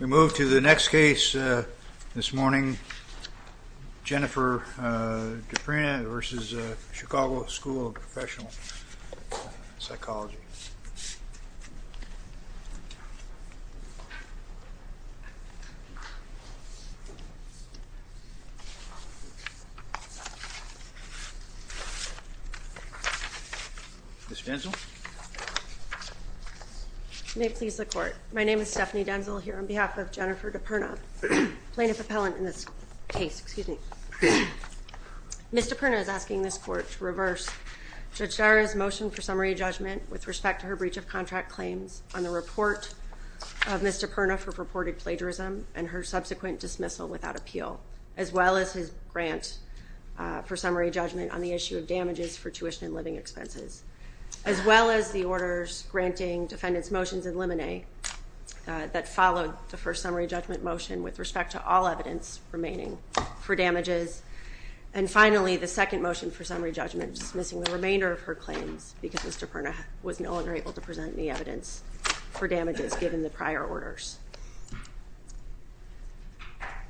We move to the next case this morning, Jennifer DiPerna v. Chicago School of Professional Psychology. Ms. Denzel? You may please the court. My name is Stephanie Denzel here on behalf of Jennifer DiPerna, plaintiff appellant in this case. Excuse me. Ms. DiPerna is asking this court to reverse Judge Dara's motion for summary judgment with respect to her breach of contract claims on the report of Ms. DiPerna for purported plagiarism and her subsequent dismissal without appeal as well as his grant for summary judgment on the issue of damages for tuition and living expenses as well as the orders granting defendants' motions in limine that followed the first summary judgment motion with respect to all evidence remaining for damages and finally the second motion for summary judgment dismissing the remainder of her claims because Ms. DiPerna was no longer able to present any evidence for damages given the prior orders.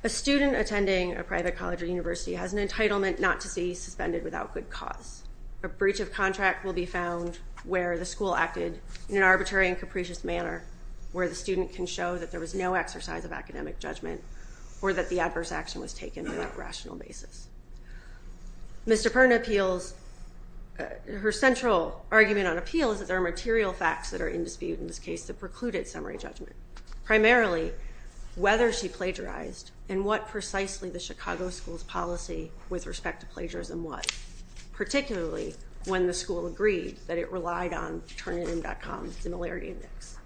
A student attending a private college or university has an entitlement not to be suspended without good cause. A breach of contract will be found where the school acted in an arbitrary and capricious manner where the student can show that there was no exercise of academic judgment or that the adverse action was taken on a rational basis. Ms. DiPerna appeals, her central argument on appeal is that there are material facts that are in dispute in this case with the precluded summary judgment, primarily whether she plagiarized and what precisely the Chicago School's policy with respect to plagiarism was, particularly when the school agreed that it relied on Turnitin.com's similarity index.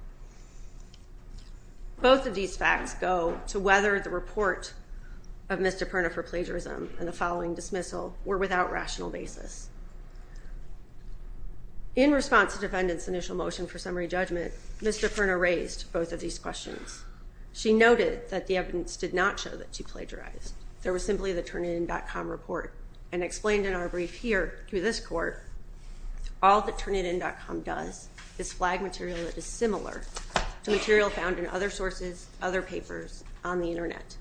Both of these facts go to whether the report of Ms. DiPerna for plagiarism and the following dismissal were without rational basis. In response to defendant's initial motion for summary judgment, Ms. DiPerna raised both of these questions. She noted that the evidence did not show that she plagiarized, there was simply the Turnitin.com report and explained in our brief here to this court all that Turnitin.com does is flag material that is similar to material found in other sources, other papers on the internet.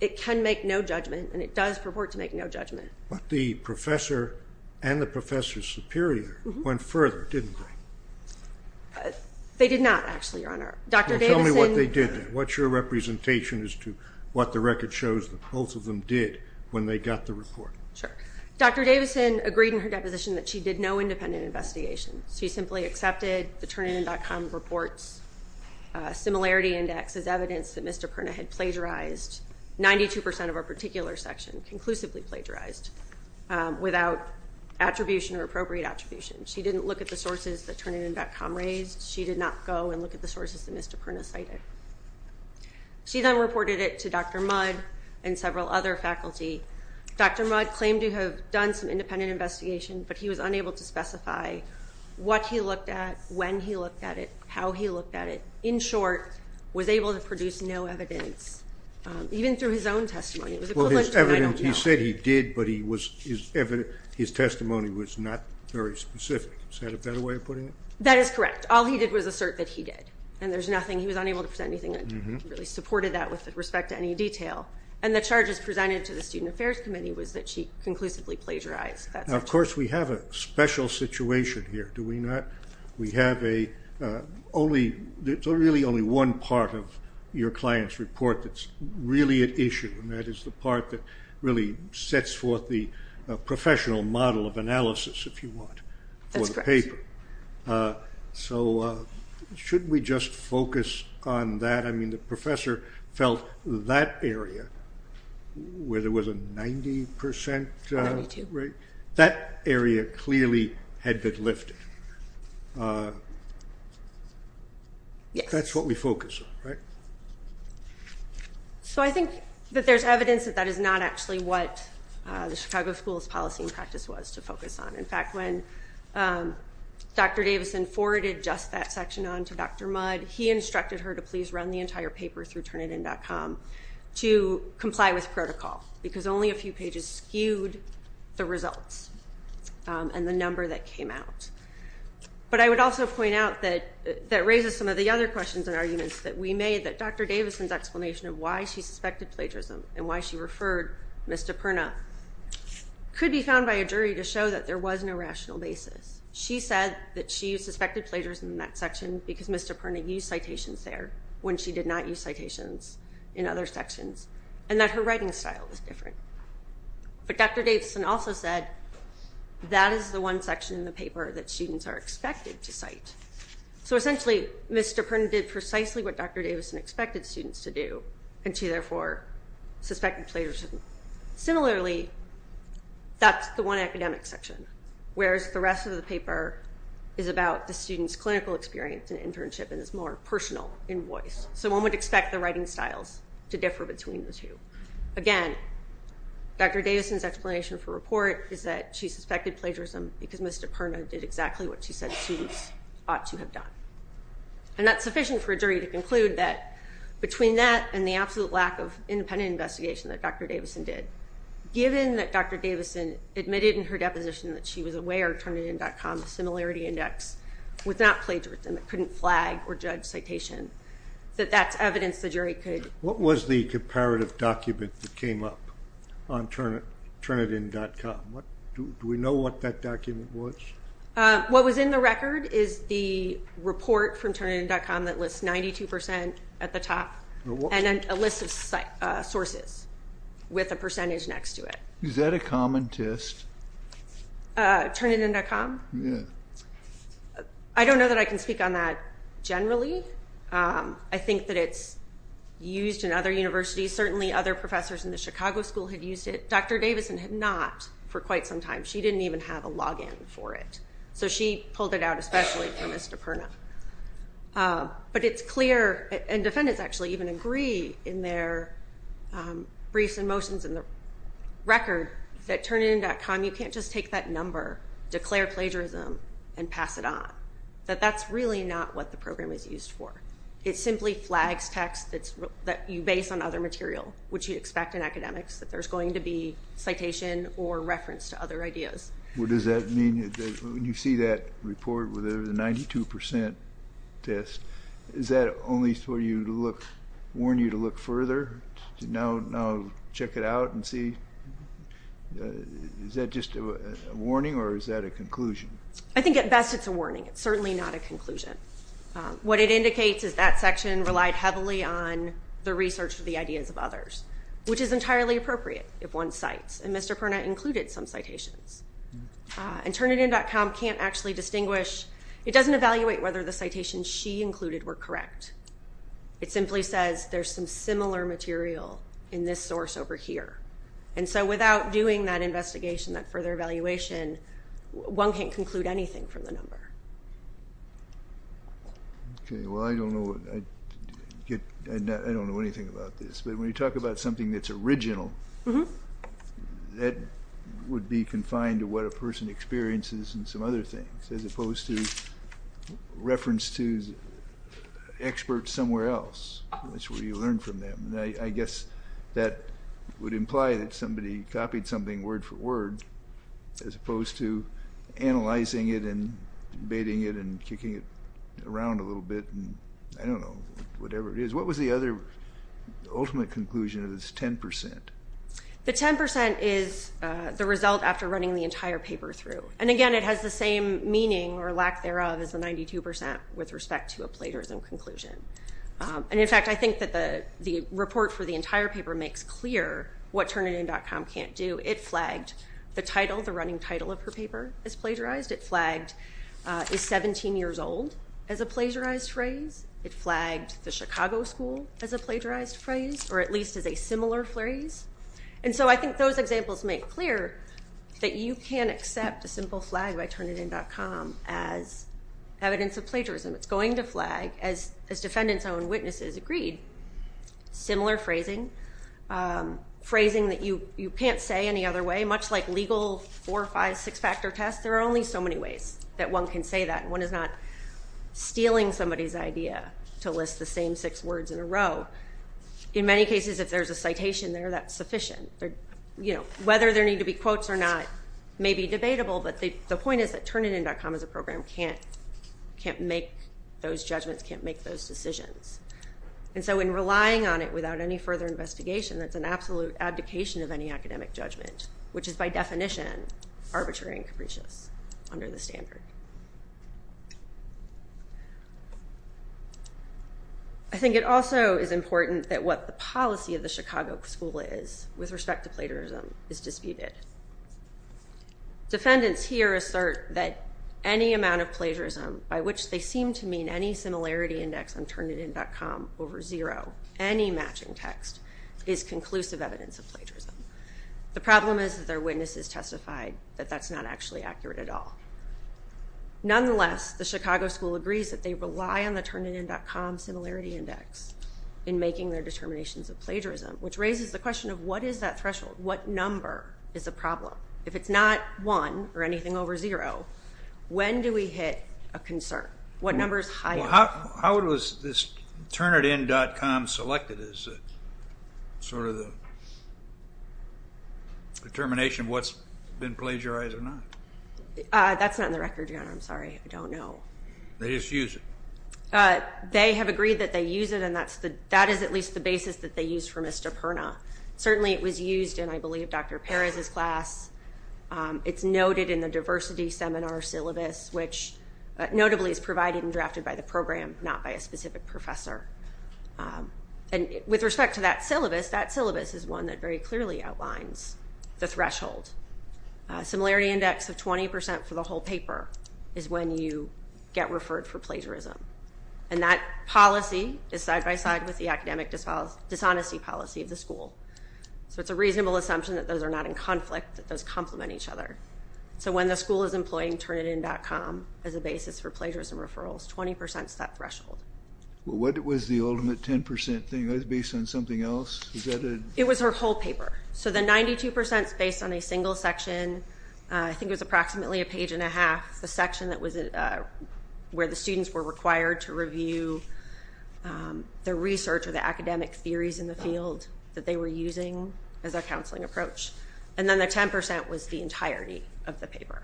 It can make no judgment and it does purport to make no judgment. But the professor and the professor's superior went further, didn't they? They did not actually, Your Honor. Tell me what they did then. What's your representation as to what the record shows that both of them did when they got the report? Sure. Dr. Davison agreed in her deposition that she did no independent investigation. She simply accepted the Turnitin.com report's similarity index as evidence that Mr. Perna had plagiarized 92% of a particular section, conclusively plagiarized without attribution or appropriate attribution. She didn't look at the sources that Turnitin.com raised. She did not go and look at the sources that Ms. DiPerna cited. She then reported it to Dr. Mudd and several other faculty. Dr. Mudd claimed to have done some independent investigation, but he was unable to specify what he looked at, when he looked at it, how he looked at it. In short, was able to produce no evidence, even through his own testimony. Well, his evidence, he said he did, but his testimony was not very specific. Is that a better way of putting it? That is correct. All he did was assert that he did, and there's nothing. He was unable to present anything that really supported that with respect to any detail. And the charges presented to the Student Affairs Committee was that she conclusively plagiarized that section. Now, of course, we have a special situation here, do we not? We have a, only, there's really only one part of your client's report that's really at issue, and that is the part that really sets forth the professional model of analysis, if you want, for the paper. That's correct. So, shouldn't we just focus on that? I mean, the professor felt that area, where there was a 90% rate, that area clearly had been lifted. That's what we focus on, right? So I think that there's evidence that that is not actually what the Chicago School's policy and practice was to focus on. In fact, when Dr. Davison forwarded just that section on to Dr. Mudd, he instructed her to please run the entire paper through Turnitin.com to comply with protocol, because only a few pages skewed the results and the number that came out. But I would also point out that that raises some of the other questions and arguments that we made, that Dr. Davison's explanation of why she suspected plagiarism and why she referred Ms. DiPerna could be found by a jury to show that there was no rational basis. She said that she suspected plagiarism in that section because Ms. DiPerna used citations there when she did not use citations in other sections, and that her writing style was different. But Dr. Davison also said that is the one section in the paper that students are expected to cite. So essentially, Ms. DiPerna did precisely what Dr. Davison expected students to do, and she therefore suspected plagiarism. Similarly, that's the one academic section, whereas the rest of the paper is about the student's clinical experience and internship and is more personal in voice. So one would expect the writing styles to differ between the two. Again, Dr. Davison's explanation for report is that she suspected plagiarism because Ms. DiPerna did exactly what she said students ought to have done. And that's sufficient for a jury to conclude that between that and the absolute lack of independent investigation that Dr. Davison did, given that Dr. Davison admitted in her deposition that she was aware of Turnitin.com's similarity index, was not plagiarism. It couldn't flag or judge citation. That that's evidence the jury could. What was the comparative document that came up on Turnitin.com? Do we know what that document was? What was in the record is the report from Turnitin.com that lists 92% at the top and a list of sources with a percentage next to it. Is that a common test? Turnitin.com? Yeah. I don't know that I can speak on that generally. I think that it's used in other universities. Certainly other professors in the Chicago School have used it. Dr. Davison had not for quite some time. She didn't even have a login for it. So she pulled it out especially for Ms. DiPerna. But it's clear, and defendants actually even agree in their briefs and motions in the record, that Turnitin.com, you can't just take that number, declare plagiarism, and pass it on. That that's really not what the program is used for. It simply flags text that you base on other material, which you expect in academics that there's going to be citation or reference to other ideas. What does that mean? When you see that report where there's a 92% test, is that only for you to look, warn you to look further? To now check it out and see? Is that just a warning or is that a conclusion? I think at best it's a warning. It's certainly not a conclusion. What it indicates is that section relied heavily on the research of the ideas of others, which is entirely appropriate if one cites. And Mr. Perna included some citations. And Turnitin.com can't actually distinguish. It doesn't evaluate whether the citations she included were correct. It simply says there's some similar material in this source over here. And so without doing that investigation, that further evaluation, one can't conclude anything from the number. Okay, well, I don't know anything about this. But when you talk about something that's original, that would be confined to what a person experiences and some other things, as opposed to reference to experts somewhere else. That's where you learn from them. And I guess that would imply that somebody copied something word for word, as opposed to analyzing it and debating it and kicking it around a little bit, and I don't know, whatever it is. What was the other ultimate conclusion of this 10%? The 10% is the result after running the entire paper through. And, again, it has the same meaning or lack thereof as the 92% with respect to a plagiarism conclusion. And, in fact, I think that the report for the entire paper makes clear what Turnitin.com can't do. It flagged the title, the running title of her paper as plagiarized. It flagged is 17 years old as a plagiarized phrase. It flagged the Chicago school as a plagiarized phrase, or at least as a similar phrase. And so I think those examples make clear that you can accept a simple flag by Turnitin.com as evidence of plagiarism. It's going to flag as defendant's own witnesses agreed. Similar phrasing, phrasing that you can't say any other way, much like legal four, five, six-factor tests. There are only so many ways that one can say that. One is not stealing somebody's idea to list the same six words in a row. In many cases, if there's a citation there, that's sufficient. Whether there need to be quotes or not may be debatable, but the point is that Turnitin.com as a program can't make those judgments, can't make those decisions. And so in relying on it without any further investigation, that's an absolute abdication of any academic judgment, which is by definition arbitrary and capricious under the standard. I think it also is important that what the policy of the Chicago school is with respect to plagiarism is disputed. Defendants here assert that any amount of plagiarism, by which they seem to mean any similarity index on Turnitin.com over zero, any matching text, is conclusive evidence of plagiarism. The problem is that their witnesses testified that that's not actually accurate at all. Nonetheless, the Chicago school agrees that they rely on the Turnitin.com similarity index in making their determinations of plagiarism, which raises the question of what is that threshold? What number is a problem? If it's not one or anything over zero, when do we hit a concern? What number is higher? How was this Turnitin.com selected as sort of the determination of what's been plagiarized or not? That's not in the record, Your Honor. I'm sorry. I don't know. They just use it. They have agreed that they use it, and that is at least the basis that they use for misdemeanor. Certainly it was used in, I believe, Dr. Perez's class. It's noted in the diversity seminar syllabus, which notably is provided and drafted by the program, not by a specific professor. With respect to that syllabus, that syllabus is one that very clearly outlines the threshold. Similarity index of 20% for the whole paper is when you get referred for plagiarism, and that policy is side-by-side with the academic dishonesty policy of the school. So it's a reasonable assumption that those are not in conflict, that those complement each other. So when the school is employing Turnitin.com as a basis for plagiarism referrals, 20% is that threshold. Well, what was the ultimate 10% thing? Was it based on something else? It was her whole paper. So the 92% is based on a single section. I think it was approximately a page and a half, the section where the students were required to review the research or the academic theories in the field that they were using as a counseling approach. And then the 10% was the entirety of the paper.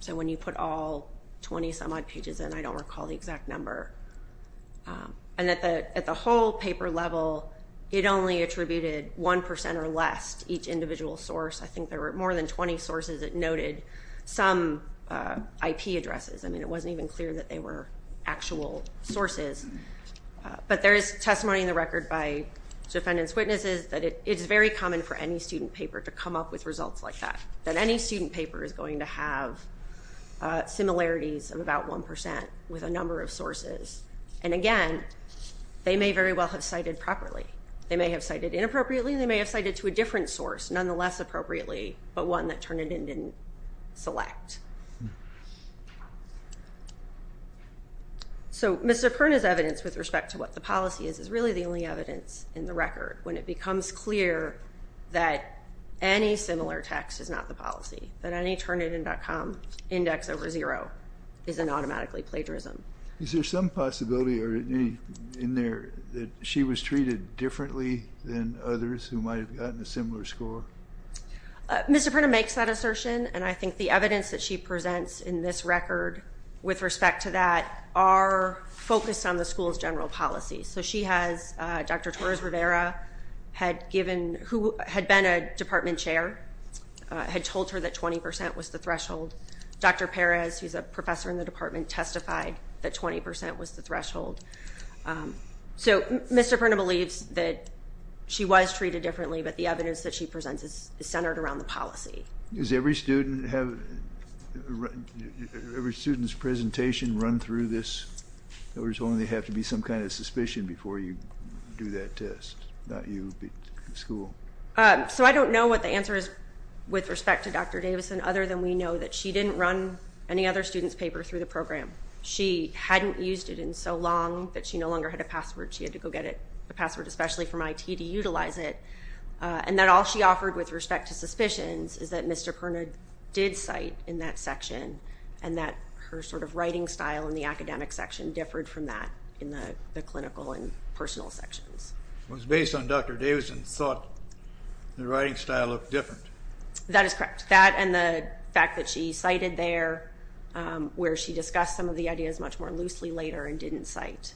So when you put all 20-some-odd pages in, I don't recall the exact number. And at the whole paper level, it only attributed 1% or less to each individual source. I think there were more than 20 sources. It noted some IP addresses. I mean, it wasn't even clear that they were actual sources. But there is testimony in the record by defendant's witnesses that it's very common for any student paper to come up with results like that, And again, they may very well have cited properly. They may have cited inappropriately. They may have cited to a different source, nonetheless appropriately, but one that Turnitin didn't select. So Mr. Perna's evidence with respect to what the policy is, is really the only evidence in the record when it becomes clear that any similar text is not the policy, that any Turnitin.com index over zero is an automatically plagiarism. Is there some possibility in there that she was treated differently than others who might have gotten a similar score? Mr. Perna makes that assertion, and I think the evidence that she presents in this record with respect to that are focused on the school's general policy. So she has Dr. Torres Rivera, who had been a department chair, had told her that 20% was the threshold. Dr. Perez, who's a professor in the department, testified that 20% was the threshold. So Mr. Perna believes that she was treated differently, but the evidence that she presents is centered around the policy. Does every student's presentation run through this? Or does it only have to be some kind of suspicion before you do that test? Not you, but the school? So I don't know what the answer is with respect to Dr. Davison, other than we know that she didn't run any other student's paper through the program. She hadn't used it in so long that she no longer had a password. She had to go get a password, especially from IT, to utilize it, and that all she offered with respect to suspicions is that Mr. Perna did cite in that section and that her sort of writing style in the academic section differed from that in the clinical and personal sections. It was based on Dr. Davison's thought the writing style looked different. That is correct. That and the fact that she cited there where she discussed some of the ideas much more loosely later and didn't cite.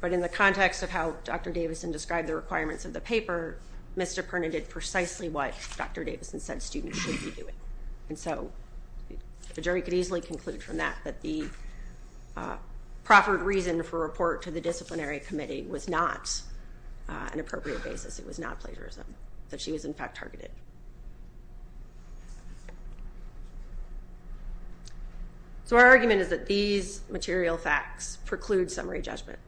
But in the context of how Dr. Davison described the requirements of the paper, Mr. Perna did precisely what Dr. Davison said students should be doing. And so the jury could easily conclude from that that the proper reason for a report to the disciplinary committee was not an appropriate basis. It was not plagiarism, that she was, in fact, targeted. So our argument is that these material facts preclude summary judgment.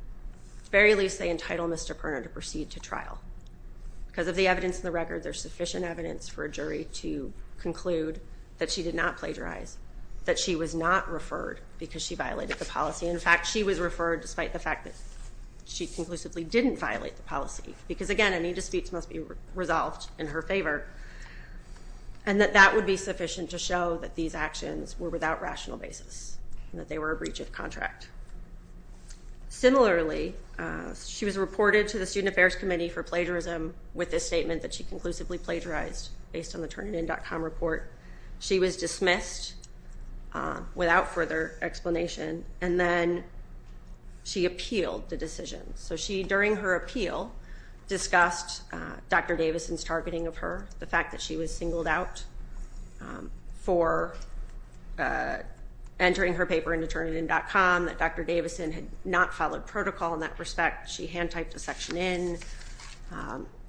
At the very least, they entitle Mr. Perna to proceed to trial. Because of the evidence in the record, there's sufficient evidence for a jury to conclude that she did not plagiarize, that she was not referred because she violated the policy. In fact, she was referred despite the fact that she conclusively didn't violate the policy because, again, any disputes must be resolved in her favor. And that that would be sufficient to show that these actions were without rational basis and that they were a breach of contract. Similarly, she was reported to the Student Affairs Committee for plagiarism with a statement that she conclusively plagiarized based on the Turnitin.com report. She was dismissed without further explanation. And then she appealed the decision. So she, during her appeal, discussed Dr. Davison's targeting of her, the fact that she was singled out for entering her paper into Turnitin.com, that Dr. Davison had not followed protocol in that respect. She hand-typed a section in.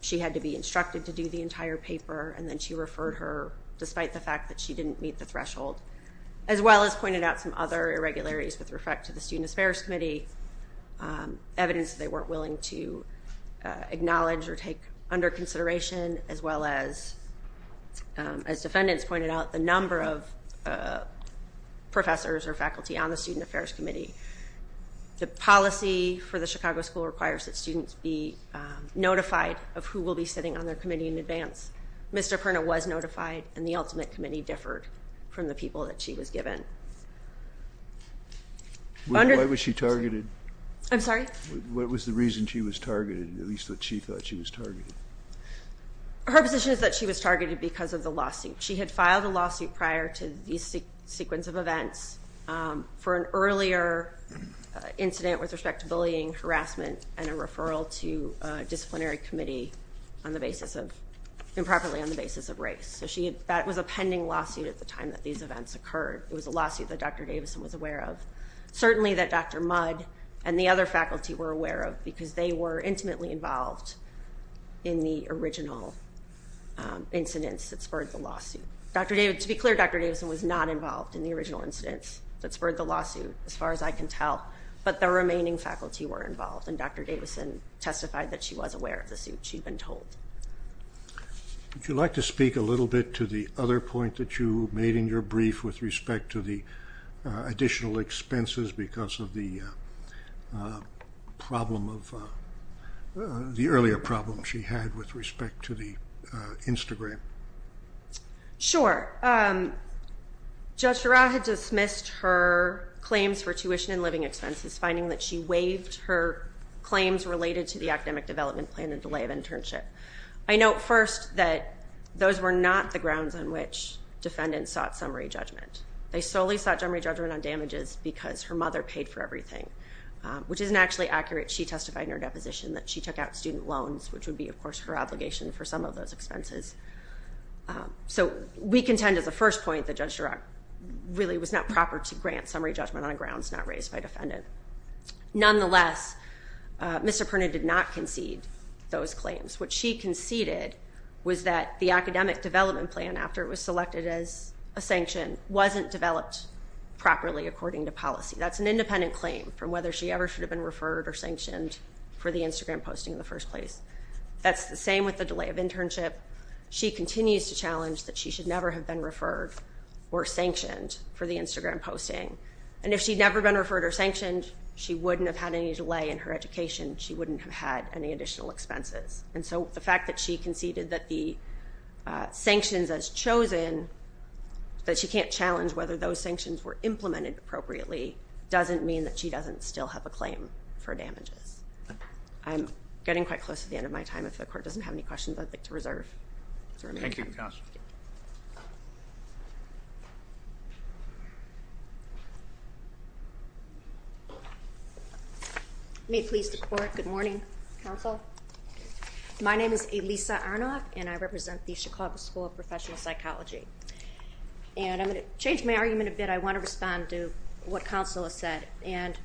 She had to be instructed to do the entire paper, and then she referred her despite the fact that she didn't meet the threshold, as well as pointed out some other irregularities with respect to the Student Affairs Committee, evidence that they weren't willing to acknowledge or take under consideration, as well as, as defendants pointed out, the number of professors or faculty on the Student Affairs Committee. The policy for the Chicago School requires that students be notified of who will be sitting on their committee in advance. Ms. DiPerna was notified, and the ultimate committee differed from the people that she was given. Why was she targeted? I'm sorry? What was the reason she was targeted, at least that she thought she was targeted? Her position is that she was targeted because of the lawsuit. She had filed a lawsuit prior to these sequence of events for an earlier incident with respect to bullying, harassment, and a referral to a disciplinary committee on the basis of, improperly on the basis of race. So that was a pending lawsuit at the time that these events occurred. It was a lawsuit that Dr. Davison was aware of. Certainly that Dr. Mudd and the other faculty were aware of because they were intimately involved in the original incidents that spurred the lawsuit. To be clear, Dr. Davison was not involved in the original incidents that spurred the lawsuit, as far as I can tell, but the remaining faculty were involved, and Dr. Davison testified that she was aware of the suit, she'd been told. Would you like to speak a little bit to the other point that you made in your brief with respect to the additional expenses because of the problem of, the earlier problem she had with respect to the Instagram? Sure. Judge Dura had dismissed her claims for tuition and living expenses, finding that she waived her claims related to the academic development plan and delay of internship. I note first that those were not the grounds on which defendants sought summary judgment. They solely sought summary judgment on damages because her mother paid for everything, which isn't actually accurate. She testified in her deposition that she took out student loans, which would be, of course, her obligation for some of those expenses. So we contend, as a first point, that Judge Dura really was not proper to grant summary judgment on grounds not raised by defendant. Nonetheless, Mr. Perna did not concede those claims. What she conceded was that the academic development plan, after it was selected as a sanction, wasn't developed properly according to policy. That's an independent claim from whether she ever should have been referred or sanctioned for the Instagram posting in the first place. That's the same with the delay of internship. She continues to challenge that she should never have been referred or sanctioned for the Instagram posting. And if she'd never been referred or sanctioned, she wouldn't have had any delay in her education. She wouldn't have had any additional expenses. And so the fact that she conceded that the sanctions as chosen, that she can't challenge whether those sanctions were implemented appropriately, doesn't mean that she doesn't still have a claim for damages. I'm getting quite close to the end of my time. If the Court doesn't have any questions, I'd like to reserve. Thank you, Counsel. May it please the Court, good morning, Counsel. My name is Elisa Arnoff, and I represent the Chicago School of Professional Psychology. And I'm going to change my argument a bit. I want to respond to what Counsel has said. And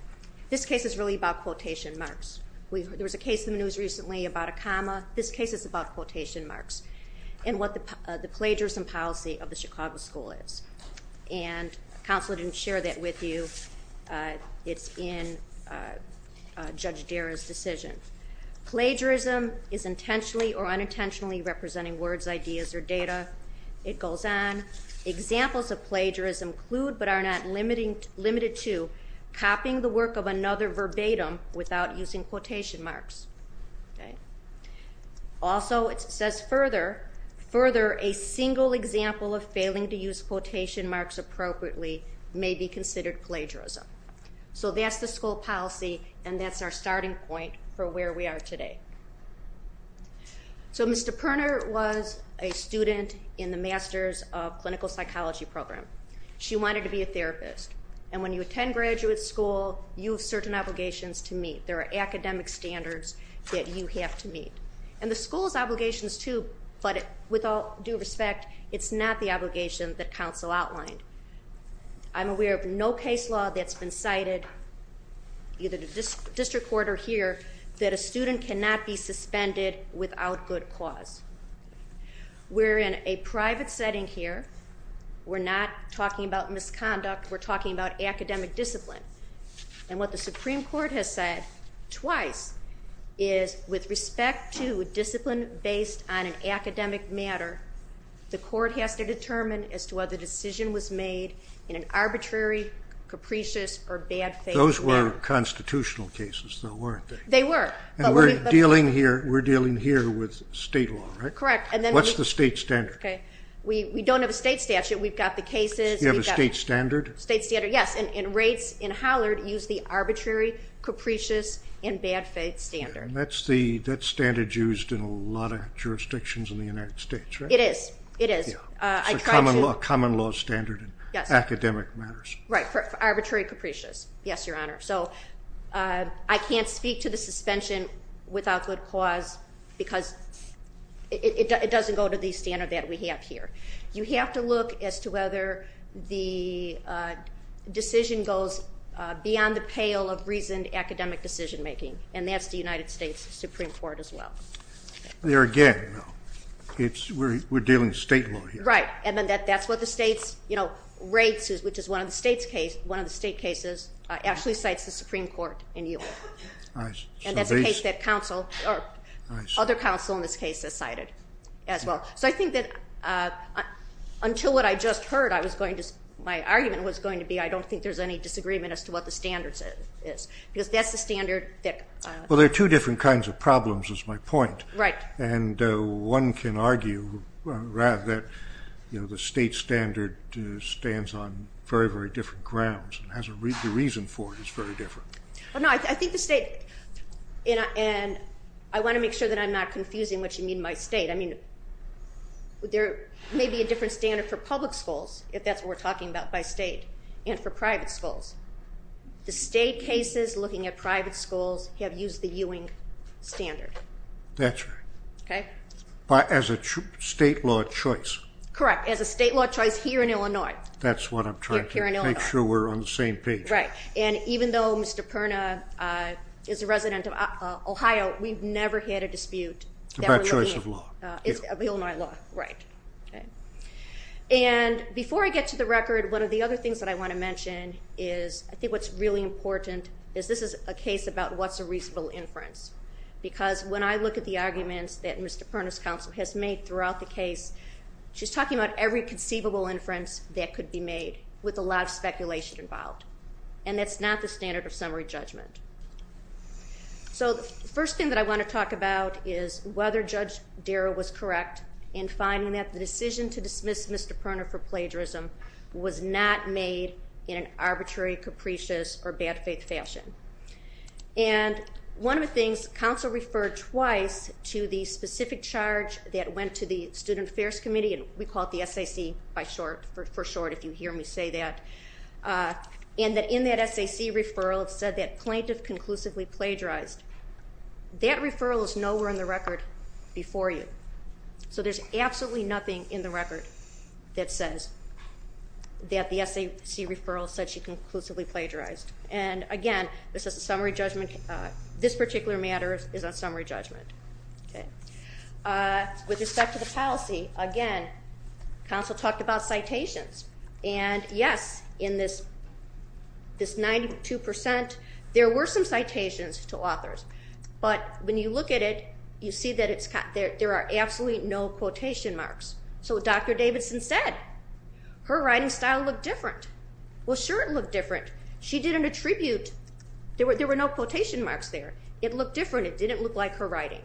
this case is really about quotation marks. There was a case in the news recently about a comma. This case is about quotation marks and what the plagiarism policy of the Chicago School is. And Counsel didn't share that with you. It's in Judge Dara's decision. Plagiarism is intentionally or unintentionally representing words, ideas, or data. It goes on. Examples of plagiarism include but are not limited to copying the work of another verbatim without using quotation marks. Also, it says further, further a single example of failing to use quotation marks appropriately may be considered plagiarism. So that's the school policy, and that's our starting point for where we are today. So Mr. Perner was a student in the Masters of Clinical Psychology program. She wanted to be a therapist. And when you attend graduate school, you have certain obligations to meet. There are academic standards that you have to meet. And the school has obligations, too, but with all due respect, it's not the obligation that Counsel outlined. I'm aware of no case law that's been cited, either the district court or here, that a student cannot be suspended without good cause. We're in a private setting here. We're not talking about misconduct. We're talking about academic discipline. And what the Supreme Court has said twice is with respect to discipline based on an academic matter, the court has to determine as to whether the decision was made in an arbitrary, capricious, or bad faith manner. Those were constitutional cases, though, weren't they? They were. And we're dealing here with state law, right? Correct. What's the state standard? We don't have a state statute. We've got the cases. You have a state standard? State standard, yes. And rates in Hollard use the arbitrary, capricious, and bad faith standard. And that's standard used in a lot of jurisdictions in the United States, right? It is. It is. It's a common law standard in academic matters. Right, for arbitrary, capricious. Yes, Your Honor. So I can't speak to the suspension without good cause because it doesn't go to the standard that we have here. You have to look as to whether the decision goes beyond the pale of reasoned academic decision making, and that's the United States Supreme Court as well. There again, though, we're dealing with state law here. Right, and that's what the state's rates, which is one of the state cases, actually cites the Supreme Court in New York. And that's a case that other counsel in this case has cited as well. So I think that until what I just heard my argument was going to be, I don't think there's any disagreement as to what the standard is because that's the standard. Well, there are two different kinds of problems is my point. Right. And one can argue that the state standard stands on very, very different grounds and the reason for it is very different. No, I think the state, and I want to make sure that I'm not confusing what you mean by state. I mean there may be a different standard for public schools, if that's what we're talking about by state, and for private schools. The state cases looking at private schools have used the Ewing standard. That's right. Okay. As a state law choice. Correct, as a state law choice here in Illinois. That's what I'm trying to make sure we're on the same page. Right, and even though Mr. Perna is a resident of Ohio, we've never had a dispute. About choice of law. Illinois law, right. And before I get to the record, one of the other things that I want to mention is I think what's really important is this is a case about what's a reasonable inference because when I look at the arguments that Mr. Perna's counsel has made throughout the case, she's talking about every conceivable inference that could be made with a lot of speculation involved, and that's not the standard of summary judgment. So the first thing that I want to talk about is whether Judge Darrow was correct in finding that the decision to dismiss Mr. Perna for plagiarism was not made in an arbitrary, capricious, or bad faith fashion. And one of the things, counsel referred twice to the specific charge that went to the Student Affairs Committee, and we call it the SAC for short, if you hear me say that, and that in that SAC referral it said that plaintiff conclusively plagiarized. That referral is nowhere in the record before you. So there's absolutely nothing in the record that says that the SAC referral said she conclusively plagiarized. And, again, this is a summary judgment. This particular matter is on summary judgment. With respect to the policy, again, counsel talked about citations. And, yes, in this 92%, there were some citations to authors. But when you look at it, you see that there are absolutely no quotation marks. So Dr. Davidson said her writing style looked different. Well, sure it looked different. She didn't attribute. There were no quotation marks there. It looked different. It didn't look like her writing.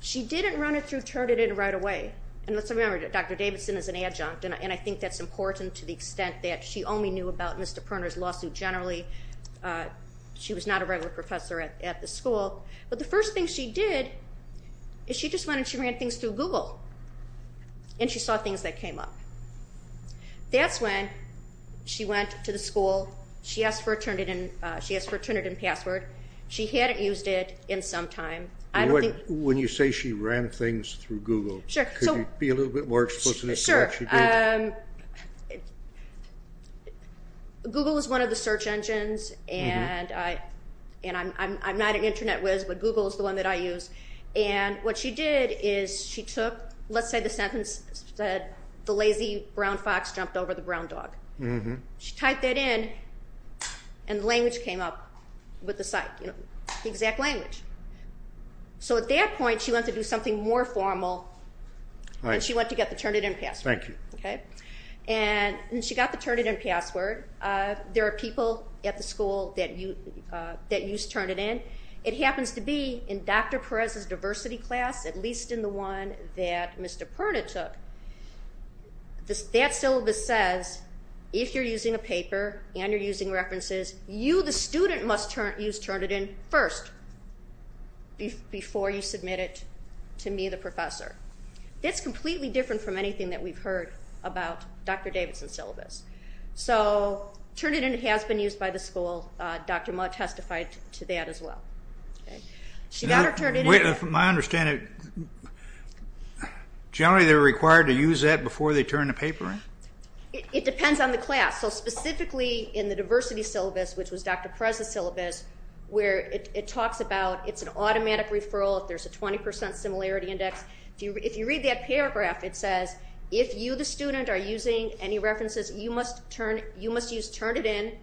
She didn't run it through, turn it in right away. And let's remember, Dr. Davidson is an adjunct, and I think that's important to the extent that she only knew about Mr. Perner's lawsuit generally. She was not a regular professor at the school. But the first thing she did is she just went and she ran things through Google, and she saw things that came up. That's when she went to the school. She asked for a Turnitin password. She hadn't used it in some time. When you say she ran things through Google, could you be a little bit more explicit as to what she did? Sure. Google is one of the search engines, and I'm not an Internet whiz, but Google is the one that I use. And what she did is she took, let's say the sentence said, the lazy brown fox jumped over the brown dog. She typed that in, and the language came up with the site, the exact language. So at that point, she went to do something more formal, and she went to get the Turnitin password. And she got the Turnitin password. There are people at the school that use Turnitin. It happens to be in Dr. Perez's diversity class, at least in the one that Mr. Perner took, that syllabus says if you're using a paper and you're using references, you, the student, must use Turnitin first before you submit it to me, the professor. That's completely different from anything that we've heard about Dr. Davidson's syllabus. So Turnitin has been used by the school. Dr. Mudd testified to that as well. She got her Turnitin. From my understanding, generally they're required to use that before they turn the paper in? It depends on the class. So specifically in the diversity syllabus, which was Dr. Perez's syllabus, where it talks about it's an automatic referral if there's a 20% similarity index. If you read that paragraph, it says if you, the student, are using any references, you must use Turnitin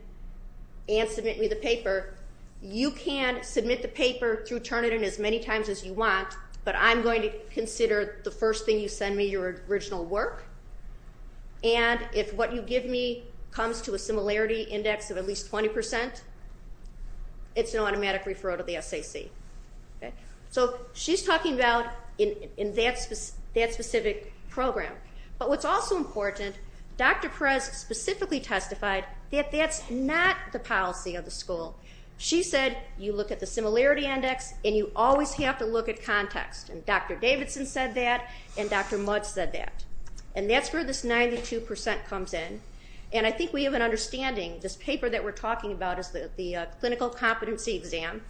and submit me the paper. You can submit the paper through Turnitin as many times as you want, but I'm going to consider the first thing you send me your original work. And if what you give me comes to a similarity index of at least 20%, it's an automatic referral to the SAC. So she's talking about that specific program. But what's also important, Dr. Perez specifically testified that that's not the policy of the school. She said you look at the similarity index and you always have to look at context. And Dr. Davidson said that, and Dr. Mutz said that. And that's where this 92% comes in. And I think we have an understanding. This paper that we're talking about is the clinical competency exam,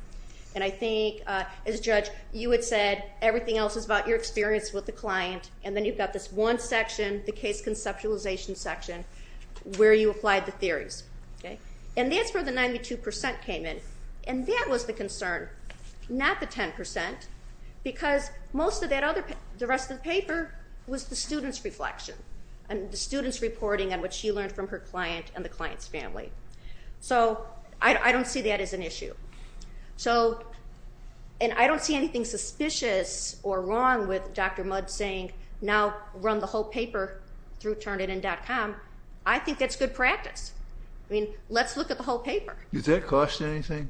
and I think, as a judge, you had said everything else is about your experience with the client, and then you've got this one section, the case conceptualization section, where you applied the theories. And that's where the 92% came in, and that was the concern, not the 10%, because most of the rest of the paper was the student's reflection and the student's reporting on what she learned from her client and the client's family. So I don't see that as an issue. And I don't see anything suspicious or wrong with Dr. Mutz saying, now run the whole paper through turnitin.com. I think that's good practice. I mean, let's look at the whole paper. Did that cost you anything?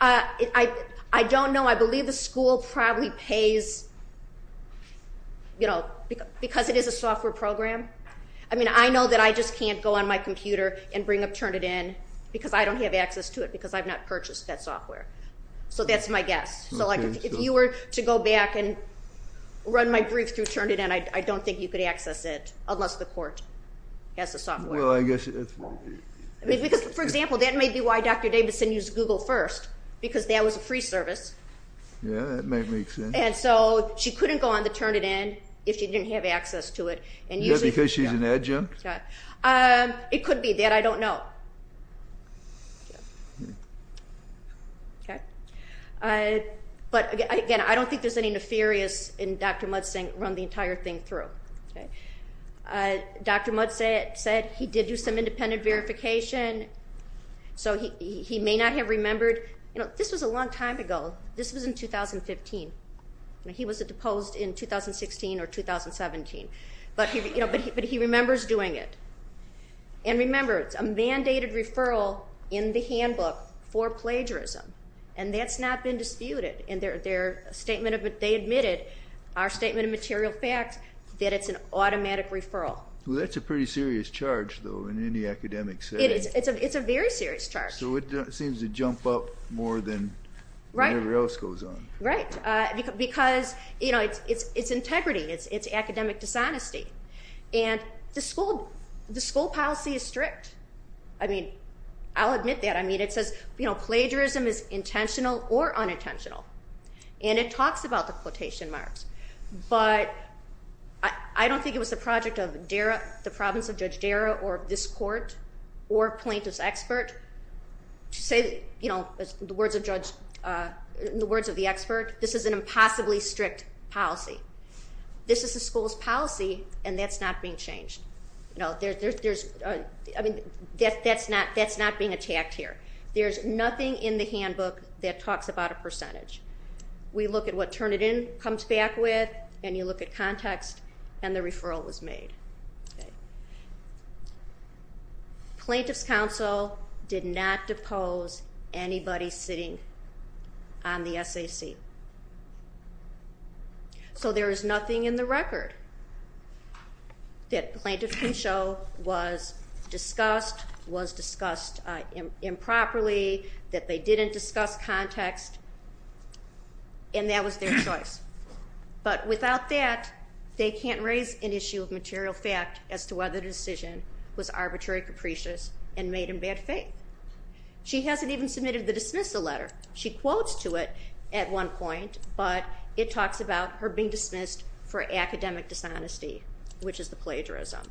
I don't know. I believe the school probably pays, you know, because it is a software program. I mean, I know that I just can't go on my computer and bring up Turnitin because I don't have access to it because I've not purchased that software. So that's my guess. So if you were to go back and run my brief through Turnitin, I don't think you could access it unless the court has the software. Well, I guess it's wrong. Because, for example, that may be why Dr. Davidson used Google first, because that was a free service. Yeah, that might make sense. And so she couldn't go on the Turnitin if she didn't have access to it. Yeah, because she's an adjunct? It could be that. I don't know. But, again, I don't think there's any nefarious in Dr. Mutz saying run the entire thing through. Dr. Mutz said he did do some independent verification. So he may not have remembered. You know, this was a long time ago. This was in 2015. He was deposed in 2016 or 2017. But he remembers doing it. And remember, it's a mandated referral in the handbook for plagiarism, and that's not been disputed. They admitted, our statement of material fact, that it's an automatic referral. Well, that's a pretty serious charge, though, in any academic setting. It's a very serious charge. So it seems to jump up more than whatever else goes on. Right, because, you know, it's integrity. It's academic dishonesty. And the school policy is strict. I mean, I'll admit that. I mean, it says, you know, plagiarism is intentional or unintentional. And it talks about the quotation marks. But I don't think it was the project of DARA, the province of Judge DARA, or this court, or plaintiff's expert, to say, you know, the words of the expert, this is an impossibly strict policy. This is the school's policy, and that's not being changed. I mean, that's not being attacked here. There's nothing in the handbook that talks about a percentage. We look at what Turnitin comes back with, and you look at context, and the referral was made. Plaintiff's counsel did not depose anybody sitting on the SAC. So there is nothing in the record that plaintiff can show was discussed, was discussed improperly, that they didn't discuss context, and that was their choice. But without that, they can't raise an issue of material fact as to whether the decision was arbitrary, capricious, and made in bad faith. She hasn't even submitted the dismissal letter. She quotes to it at one point, but it talks about her being dismissed for academic dishonesty, which is the plagiarism.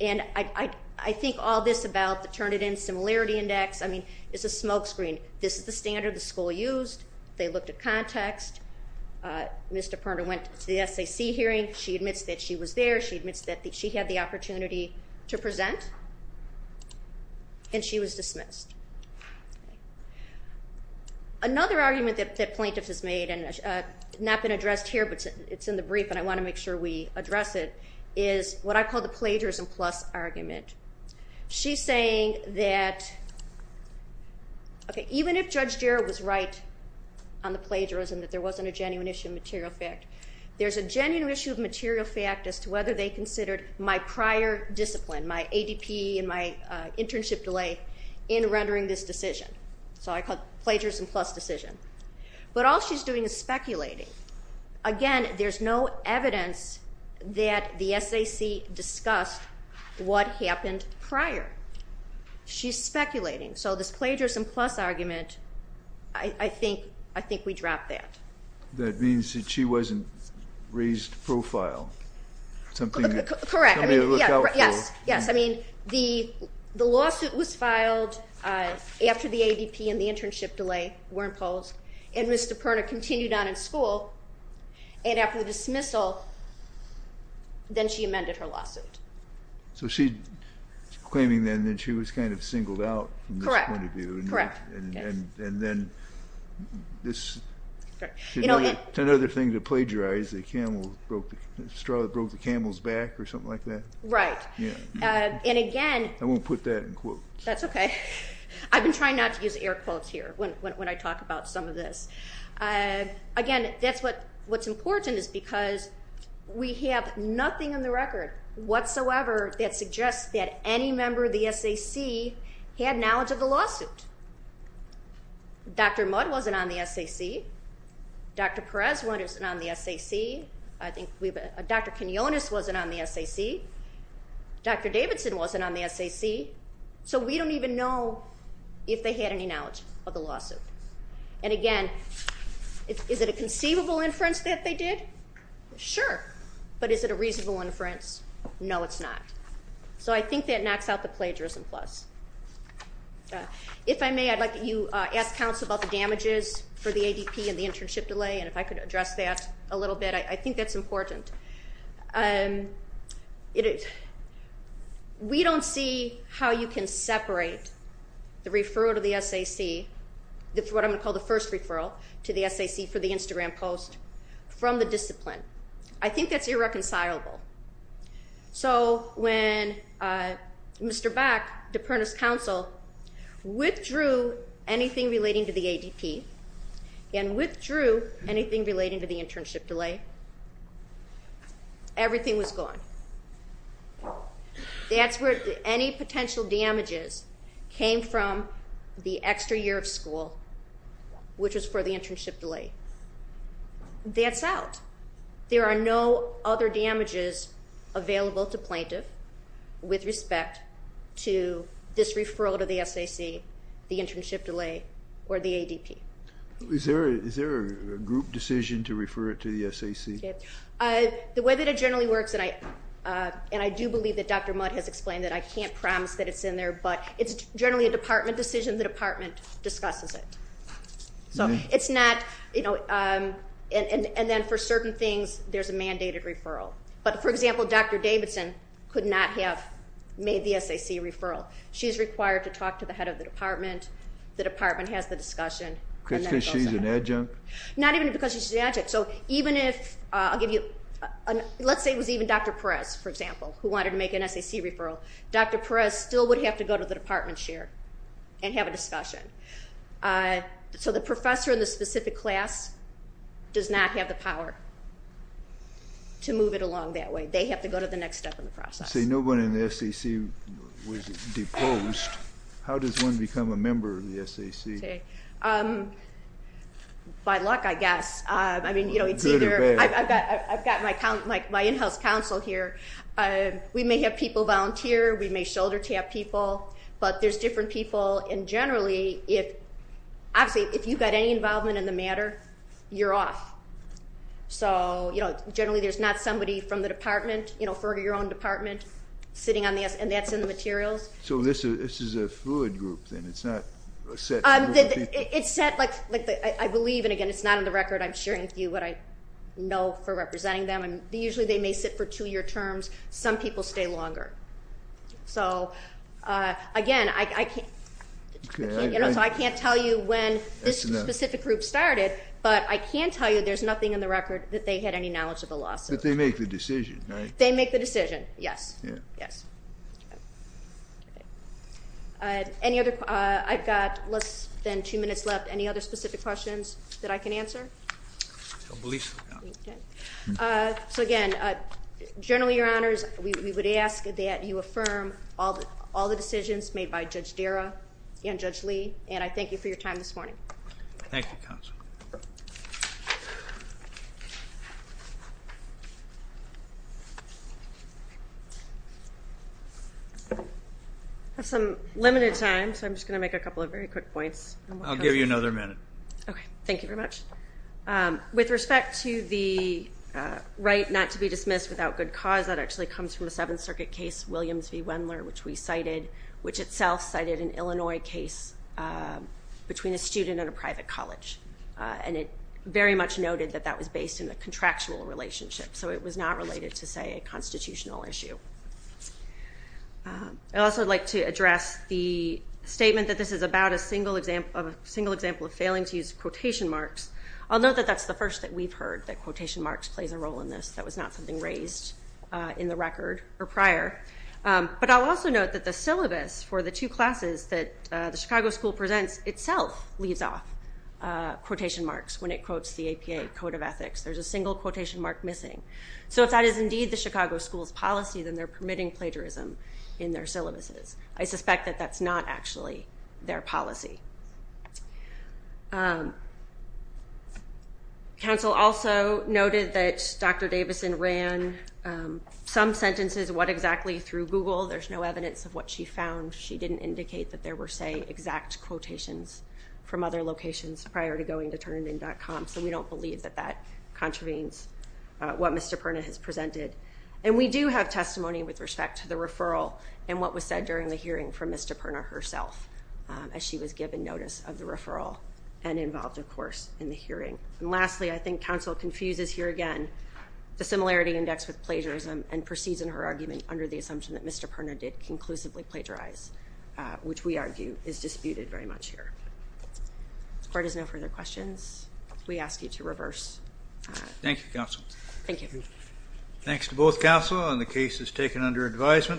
And I think all this about the Turnitin Similarity Index, I mean, it's a smokescreen. This is the standard the school used. They looked at context. Mr. Perna went to the SAC hearing. She admits that she was there. She admits that she had the opportunity to present, and she was dismissed. Another argument that plaintiff has made, and it's not been addressed here, but it's in the brief and I want to make sure we address it, is what I call the plagiarism plus argument. She's saying that even if Judge Jarrett was right on the plagiarism, that there wasn't a genuine issue of material fact, there's a genuine issue of material fact as to whether they considered my prior discipline, my ADP and my internship delay, in rendering this decision. So I call it plagiarism plus decision. But all she's doing is speculating. Again, there's no evidence that the SAC discussed what happened prior. She's speculating. So this plagiarism plus argument, I think we drop that. That means that she wasn't raised to profile. Correct. Yes. Yes. I mean, the lawsuit was filed after the ADP and the internship delay were imposed, and Ms. DiPerna continued on in school. And after the dismissal, then she amended her lawsuit. So she's claiming then that she was kind of singled out from this point of view. Correct. And then this is another thing to plagiarize. The straw that broke the camel's back or something like that. Right. And again. I won't put that in quotes. That's okay. I've been trying not to use air quotes here when I talk about some of this. Again, that's what's important is because we have nothing in the record whatsoever that suggests that any member of the SAC had knowledge of the lawsuit. Dr. Mudd wasn't on the SAC. Dr. Perez wasn't on the SAC. Dr. Quinones wasn't on the SAC. Dr. Davidson wasn't on the SAC. So we don't even know if they had any knowledge of the lawsuit. And again, is it a conceivable inference that they did? Sure. But is it a reasonable inference? No, it's not. So I think that knocks out the plagiarism plus. If I may, I'd like you to ask counsel about the damages for the ADP and the internship delay, and if I could address that a little bit. I think that's important. We don't see how you can separate the referral to the SAC, what I'm going to call the first referral to the SAC for the Instagram post, from the discipline. I think that's irreconcilable. So when Mr. Back, DePerna's counsel, withdrew anything relating to the ADP and withdrew anything relating to the internship delay, everything was gone. That's where any potential damages came from the extra year of school, which was for the internship delay. That's out. There are no other damages available to plaintiff with respect to this referral to the SAC, the internship delay, or the ADP. Is there a group decision to refer it to the SAC? The way that it generally works, and I do believe that Dr. Mudd has explained that I can't promise that it's in there, but it's generally a department decision. The department discusses it. And then for certain things, there's a mandated referral. But, for example, Dr. Davidson could not have made the SAC referral. She's required to talk to the head of the department. The department has the discussion. Because she's an adjunct? Not even because she's an adjunct. So even if, I'll give you, let's say it was even Dr. Perez, for example, who wanted to make an SAC referral, Dr. Perez still would have to go to the department chair and have a discussion. So the professor in the specific class does not have the power to move it along that way. They have to go to the next step in the process. See, no one in the SAC was deposed. How does one become a member of the SAC? By luck, I guess. Good or bad. I've got my in-house counsel here. We may have people volunteer. We may shoulder tap people. But there's different people. And generally, obviously, if you've got any involvement in the matter, you're off. So, you know, generally there's not somebody from the department, you know, for your own department, sitting on the S, and that's in the materials. So this is a fluid group then? It's not a set group of people? It's set, like I believe, and, again, it's not on the record. I'm sharing with you what I know for representing them. Usually they may sit for two-year terms. Some people stay longer. So, again, I can't tell you when this specific group started, but I can tell you there's nothing in the record that they had any knowledge of the lawsuit. But they make the decision, right? They make the decision, yes. Yes. I've got less than two minutes left. So, again, generally, Your Honors, we would ask that you affirm all the decisions made by Judge Dara and Judge Lee, and I thank you for your time this morning. Thank you, Counsel. I have some limited time, so I'm just going to make a couple of very quick points. I'll give you another minute. Okay. Thank you very much. With respect to the right not to be dismissed without good cause, that actually comes from a Seventh Circuit case, Williams v. Wendler, which we cited, which itself cited an Illinois case between a student and a private college. And it very much noted that that was based in the contractual relationship. So it was not related to, say, a constitutional issue. I'd also like to address the statement that this is about a single example of failing to use quotation marks. I'll note that that's the first that we've heard, that quotation marks plays a role in this. That was not something raised in the record or prior. But I'll also note that the syllabus for the two classes that the Chicago School presents itself leaves off quotation marks when it quotes the APA Code of Ethics. There's a single quotation mark missing. So if that is indeed the Chicago School's policy, then they're permitting plagiarism in their syllabuses. I suspect that that's not actually their policy. Council also noted that Dr. Davison ran some sentences, what exactly, through Google. There's no evidence of what she found. She didn't indicate that there were, say, exact quotations from other locations prior to going to turnitin.com. So we don't believe that that contravenes what Ms. DiPerna has presented. And we do have testimony with respect to the referral and what was said during the hearing from Ms. DiPerna herself as she was given notice of the referral and involved, of course, in the hearing. And lastly, I think Council confuses here again the similarity index with plagiarism and proceeds in her argument under the assumption that Ms. DiPerna did conclusively plagiarize, which we argue is disputed very much here. If there are no further questions, we ask you to reverse. Thank you, Council. Thank you. Thanks to both Council on the cases taken under advisement.